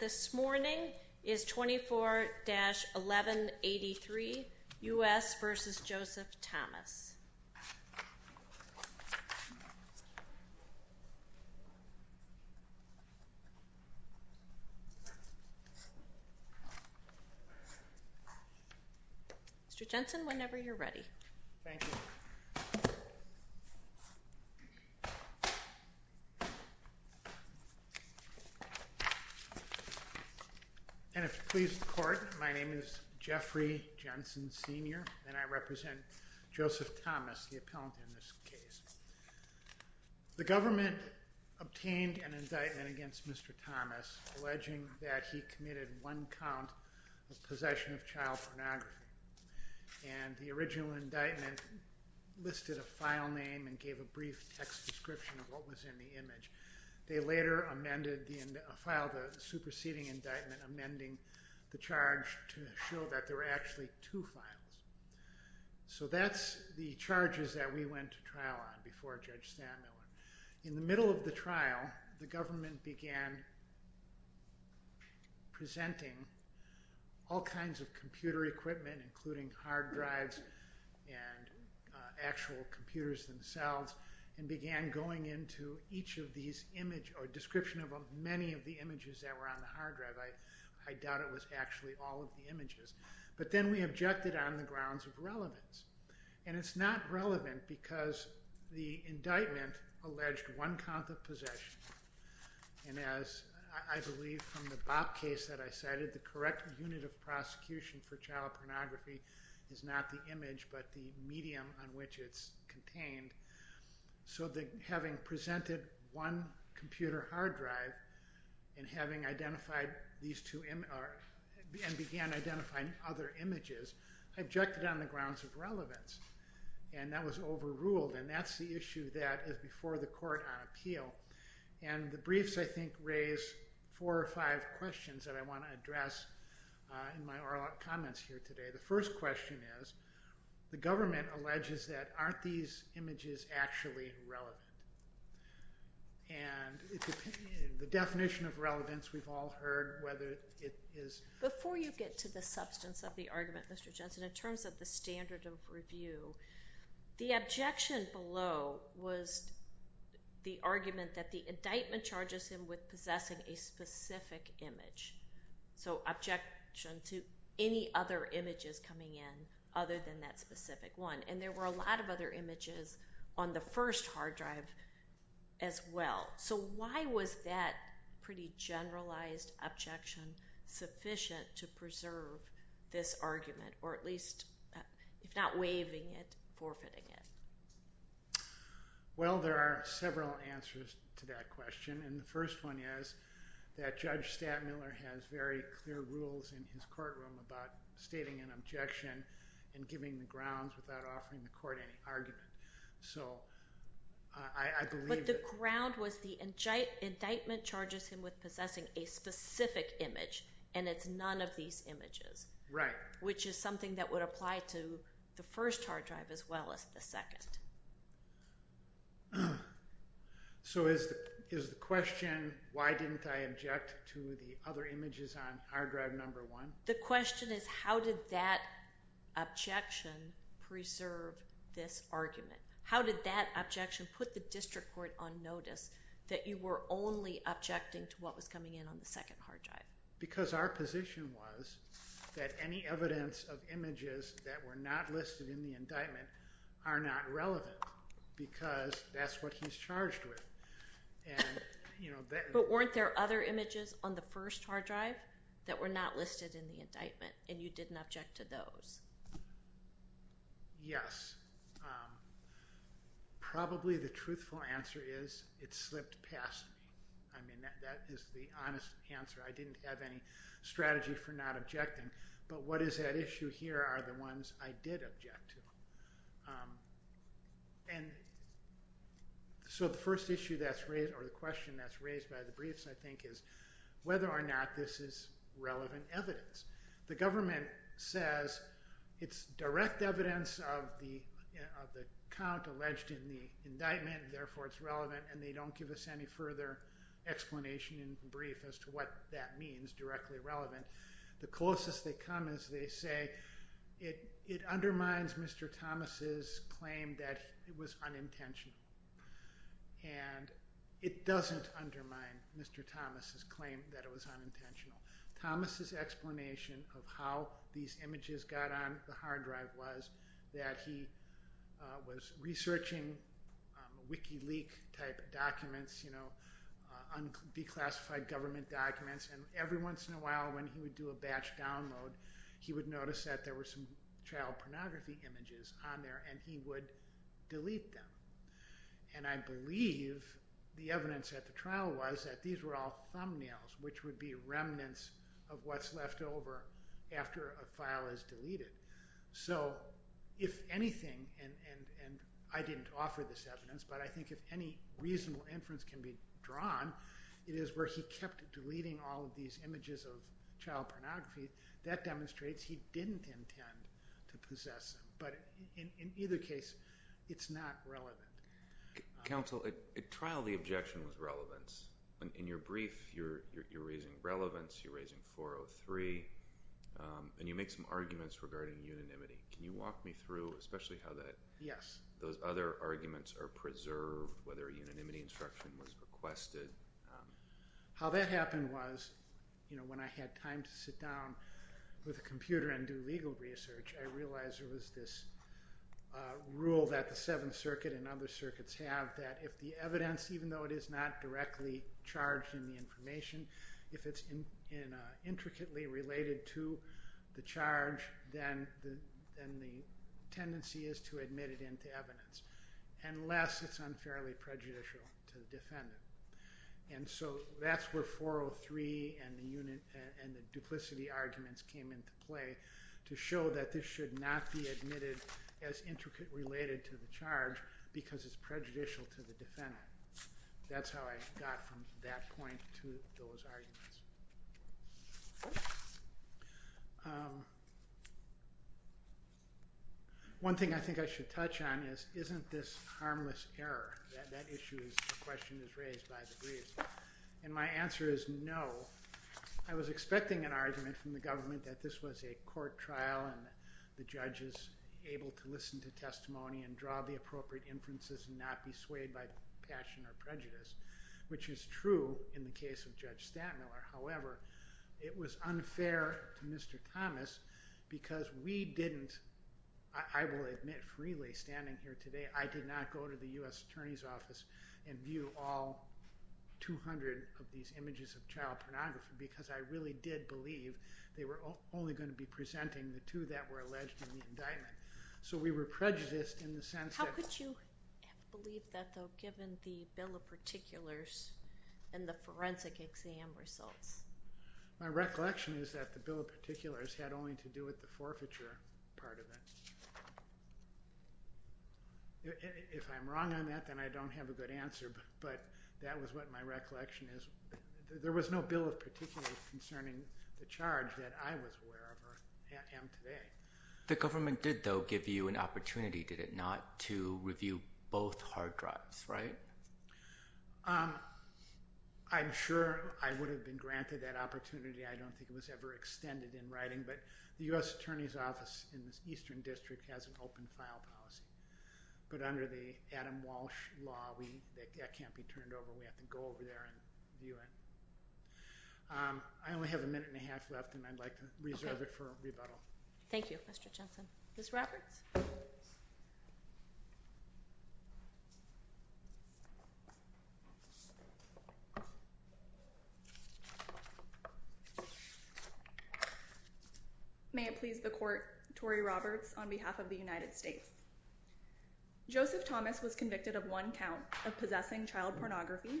this morning is 24-1183 U.S. v. Joseph Thomas. Mr. Jensen, whenever you're ready. And if you please the court, my name is Jeffrey Jensen Sr. and I represent Joseph Thomas, the appellant in this case. The government obtained an indictment against Mr. Thomas alleging that he committed one count of possession of child pornography. And the original indictment listed a file name and gave a brief text description of what was in the image. They later amended the file, the superseding indictment, amending the charge to show that there were actually two files. So that's the charges that we went to trial on before Judge Stan Miller. In the middle of the trial, the government began presenting all kinds of computer equipment, including hard drives and actual computers themselves, and began going into each of these images or description of many of the images that were on the hard drive. I doubt it was actually all of the images. But then we objected on the grounds of relevance. And it's not relevant because the indictment alleged one count of possession. And as I believe from the Bob case that I cited, the correct unit of prosecution for child pornography is not the image but the medium on which it's contained. So having presented one computer hard drive and having identified these two and began identifying other images, I objected on the grounds of relevance. And that was overruled. And that's the issue that is before the court on appeal. And the briefs, I think, raise four or five questions that I want to address in my comments here today. The first question is, the government alleges that aren't these images actually relevant? And the definition of relevance we've all heard whether it is... Before you get to the substance of the argument, Mr. Jensen, in terms of the standard of review, the objection below was the argument that the indictment charges him with possessing a specific image. So objection to any other images coming in other than that specific one. And there were a lot of other images on the first hard drive as well. So why was that pretty generalized objection sufficient to preserve this argument or at least, if not waiving it, forfeiting it? Well, there are several answers to that question. And the first one is that Judge Stattmiller has very clear rules in his courtroom about stating an objection and giving the grounds without offering the court any argument. So I believe... But the ground was the indictment charges him with possessing a specific image and it's none of these images. Right. Which is something that would apply to the first hard drive as well as the second. So is the question, why didn't I object to the other images on hard drive number one? The question is how did that objection preserve this argument? How did that objection put the district court on notice that you were only objecting to what was coming in on the second hard drive? Because our position was that any evidence of images that were not listed in the indictment are not relevant because that's what he's charged with. But weren't there other images on the first hard drive that were not listed in the indictment and you didn't object to those? Yes. Probably the truthful answer is it slipped past me. I mean, that is the honest answer. I didn't have any strategy for not objecting to the other images on the first hard drive. So the first issue that's raised or the question that's raised by the briefs I think is whether or not this is relevant evidence. The government says it's direct evidence of the count alleged in the indictment therefore it's relevant and they don't give us any further explanation in brief as to what that means, directly relevant. The closest they come is they say it undermines Mr. Thomas' claim that it was unintentional. And it doesn't undermine Mr. Thomas' claim that it was unintentional. Thomas' explanation of how these images got on the hard drive was that he was researching Wikileak type documents, declassified government documents, and every once in a while when he would do a batch download he would notice that there were some child pornography images on there and he would delete them. And I believe the evidence at the trial was that these were all thumbnails which would be remnants of what's left over after a file is deleted. So if anything, and I didn't offer this evidence, but I think if any reasonable inference can be drawn it is where he kept deleting all of these images of child pornography. That demonstrates he didn't intend to possess them. But in either case it's not relevant. Counsel, at trial the objection was relevance. In your brief you're raising relevance, you're raising 403 and you make some arguments regarding unanimity. Can you walk me through especially how those other arguments are preserved, whether a unanimity instruction was requested? How that happened was when I had time to sit down with a computer and do legal research I realized there was this rule that the Seventh Circuit and other circuits have that if the evidence, even though it is not directly charged in the information, if it's intricately related to the charge then the tendency is to admit it into evidence unless it's unfairly prejudicial to the defendant. And so that's where 403 and the duplicity arguments came into play to show that this should not be admitted as intricately related to the charge because it's prejudicial to the defendant. That's how I got from that point to those arguments. One thing I think I should touch on is isn't this harmless error? That issue, the question is raised by the brief. And my answer is no. I was expecting an argument from the government that this was a court trial and the judge is able to listen to testimony and draw the appropriate inferences and not be swayed by passion or prejudice, which is true in the case of Judge Stantmiller. However, it was unfair to Mr. Thomas because we didn't, I will admit freely standing here today, I did not go to the U.S. Attorney's Office and view all 200 of these images of child pornography because I really did believe they were only going to be presenting the two that were alleged in the indictment. So we were prejudiced in the sense that... How could you believe that though given the bill of particulars and the forensic exam results? My recollection is that the bill of particulars had only to do with the forfeiture part of it. If I'm wrong on that, then I don't have a good answer, but that was what my recollection is. There was no bill of particulars concerning the charge that I was aware of or am today. The government did though give you an opportunity, did it not, to review both hard drives, right? I'm sure I would have been granted that opportunity. I don't think it was ever extended in writing, but the U.S. Attorney's Office in the Eastern District has an open file policy. But under the Adam Walsh law, that can't be turned over. We have to go over there and view it. I only have a minute and a half left and I'd like to reserve it for rebuttal. Thank you, Mr. Jensen. Ms. Roberts? May it please the court, Tory Roberts on behalf of the United States. Joseph Thomas was convicted of one count of possessing child pornography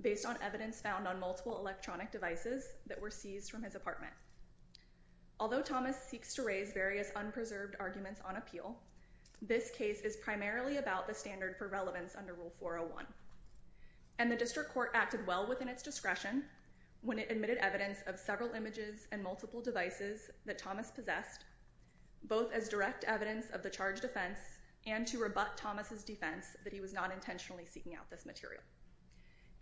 based on evidence found on multiple electronic devices that were seized from his apartment. Although Thomas seeks to raise various unpreserved arguments on appeal, this case is primarily about the standard for relevance under Rule 401. And the district court acted well within its discretion when it admitted evidence of several images and multiple devices that Thomas possessed, both as direct evidence of the charged offense and to rebut Thomas' defense that he was not intentionally seeking out this material.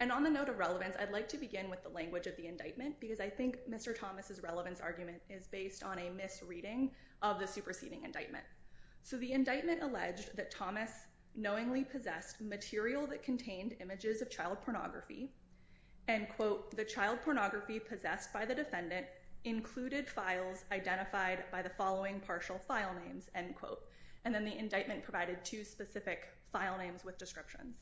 And on the note of relevance, I'd like to begin with the language of the indictment because I think Mr. Thomas' relevance argument is based on a misreading of the superseding indictment. So the indictment alleged that Thomas knowingly possessed material that contained images of child pornography and, quote, the child pornography possessed by the defendant included files identified by the following partial file names, end quote. And then the indictment provided two specific file names with descriptions.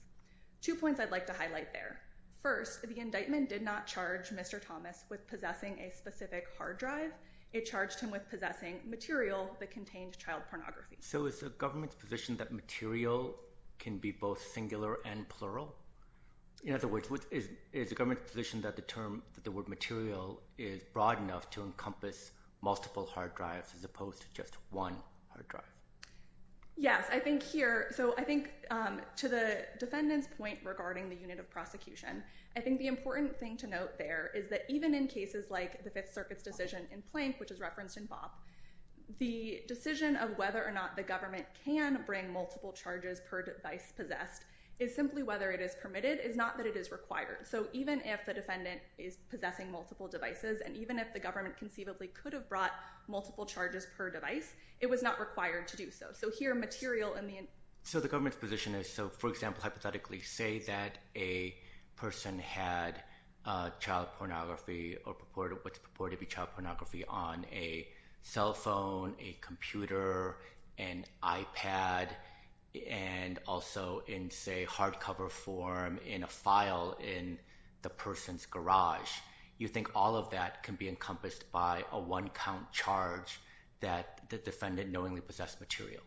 Two points I'd like to highlight there. First, the indictment did not charge Mr. Thomas with possessing a specific hard drive. It charged him with possessing material that contained child pornography. So is the government's position that material can be both singular and plural? In other words, is the government's position that the word material is broad enough to encompass multiple hard drives as opposed to just one hard drive? Yes, I think here, so I think to the defendant's point regarding the unit of prosecution, I think the important thing to note there is that even in cases like the Fifth Circuit's decision in Plank, which is referenced in BOP, the decision of whether or not the government can bring multiple charges per device possessed is simply whether it is permitted. It's not that it is required. So even if the defendant is possessing multiple devices and even if the government conceivably could have brought multiple charges per device, it was not required to do so. So here, material in the indictment, So the government's position is, so for example, hypothetically say that a person had child pornography or what's purported to be child pornography on a cell phone, a computer, an iPad, and also in say hardcover form in a file in the person's garage, you think all of that can be encompassed by a one-count charge that the defendant knowingly possessed material?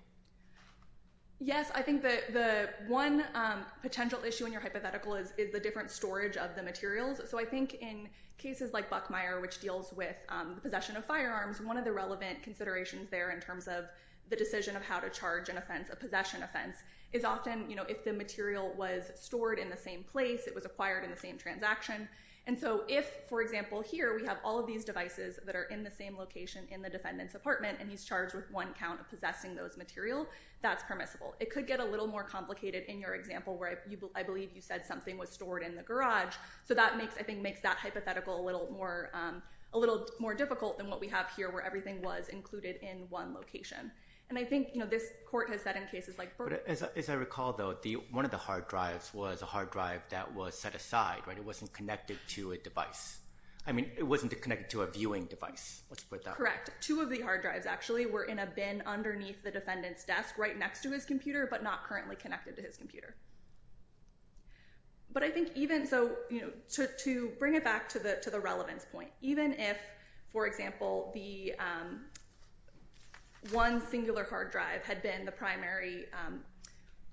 Yes, I think the one potential issue in your hypothetical is the different storage of the materials. So I think in cases like Buckmeyer, which deals with the possession of firearms, one of the relevant considerations there in terms of the decision of how to charge an offense, a possession offense, is often if the material was stored in the same place, it was acquired in the same transaction. And so if, for example, here we have all of these devices that are in the same location in the defendant's apartment and he's charged with one count of possessing those materials, that's permissible. It could get a little more complicated in your example where I believe you said something was stored in the garage. So that makes, I think, makes that hypothetical a little more difficult than what we have here where everything was included in one location. And I think this court has said in cases like Berger. But as I recall, though, one of the hard drives was a hard drive that was set aside. It wasn't connected to a device. I mean, it wasn't connected to a viewing device. Correct. Two of the hard drives actually were in a bin underneath the defendant's desk right next to his computer but not currently connected to his computer. But I think even so, you know, to bring it back to the relevance point, even if, for example, the one singular hard drive had been the primary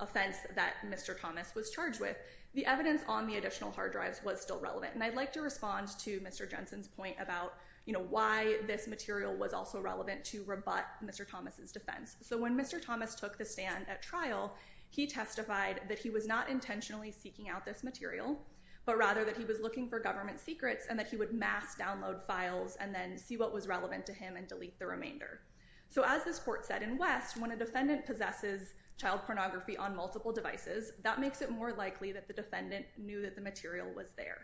offense that Mr. Thomas was charged with, the evidence on the additional hard drives was still relevant. And I'd like to respond to Mr. Jensen's point about, you know, why this material was also relevant to rebut Mr. Thomas's defense. So when Mr. Thomas took the stand at trial, he testified that he was not intentionally seeking out this material but rather that he was looking for government secrets and that he would mass download files and then see what was relevant to him and delete the remainder. So as this court said in West, when a defendant possesses child pornography on multiple devices, that makes it more likely that the defendant knew that the material was there.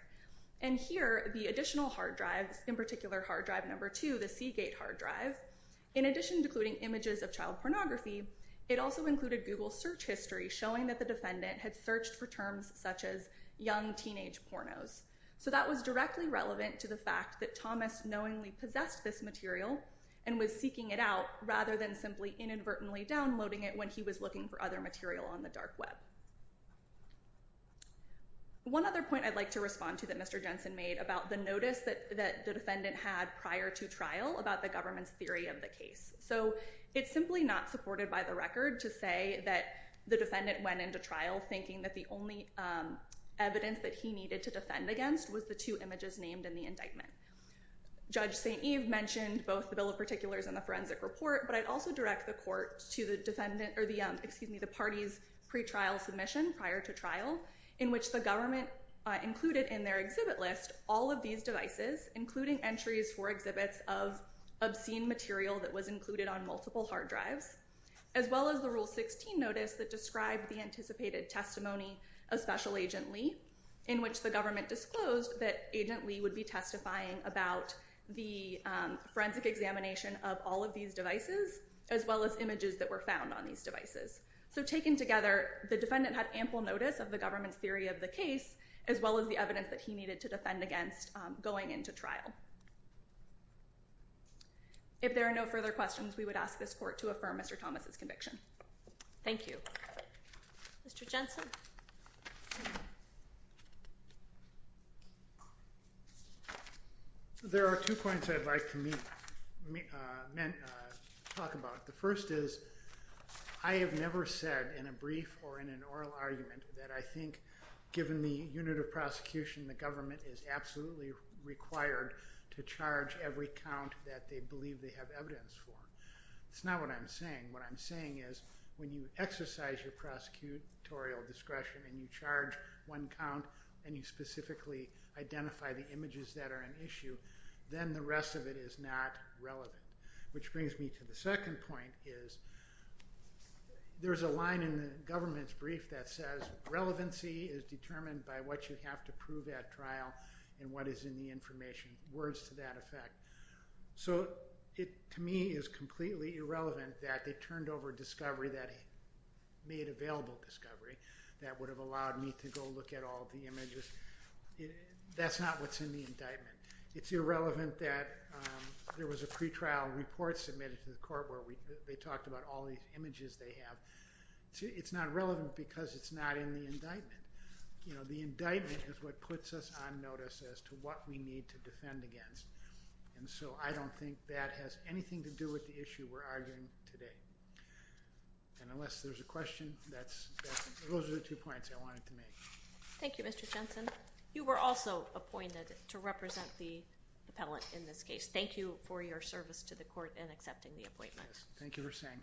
And here, the additional hard drives, in particular hard drive number two, the Seagate hard drive, in addition to including images of child pornography, it also included Google search history showing that the defendant had searched for terms such as young teenage pornos. So that was directly relevant to the fact that Thomas knowingly possessed this material and was seeking it out rather than simply inadvertently downloading it when he was looking for other material on the dark web. One other point I'd like to respond to that Mr. Jensen made about the notice that the defendant had prior to trial about the government's theory of the case. So it's simply not supported by the record to say that the defendant went into trial thinking that the only evidence that he needed to defend against was the two images named in the indictment. Judge St. Eve mentioned both the bill of particulars and the forensic report, but I'd also direct the court to the parties' pretrial submission prior to trial in which the government included in their exhibit list all of these devices, including entries for exhibits of obscene material that was included on multiple hard drives, as well as the Rule 16 notice that described the anticipated testimony of Special Agent Lee in which the government disclosed that Agent Lee would be testifying about the forensic examination of all of these devices as well as images that were found on these devices. So taken together, the defendant had ample notice of the government's theory of the case as well as the evidence that he needed to defend against going into trial. If there are no further questions, we would ask this court to affirm Mr. Thomas' conviction. Thank you. Mr. Jensen. There are two points I'd like to talk about. The first is I have never said in a brief or in an oral argument that I think given the unit of prosecution the government is absolutely required to charge every count that they believe they have evidence for. That's not what I'm saying. What I'm saying is when you exercise your prosecutorial discretion and you charge one count and you specifically identify the images that are an issue, then the rest of it is not relevant. Which brings me to the second point is there's a line in the government's brief that says relevancy is determined by what you have to prove at trial and what is in the information, words to that effect. So it, to me, is completely irrelevant that they turned over discovery that made available discovery that would have allowed me to go look at all the images. That's not what's in the indictment. It's irrelevant that there was a pretrial report submitted to the court where they talked about all these images they have. It's not relevant because it's not in the indictment. The indictment is what puts us on notice as to what we need to defend against, and so I don't think that has anything to do with the issue we're arguing today. Unless there's a question, those are the two points I wanted to make. Thank you, Mr. Jensen. You were also appointed to represent the appellant in this case. Thank you for your service to the court in accepting the appointment. Thank you for saying so.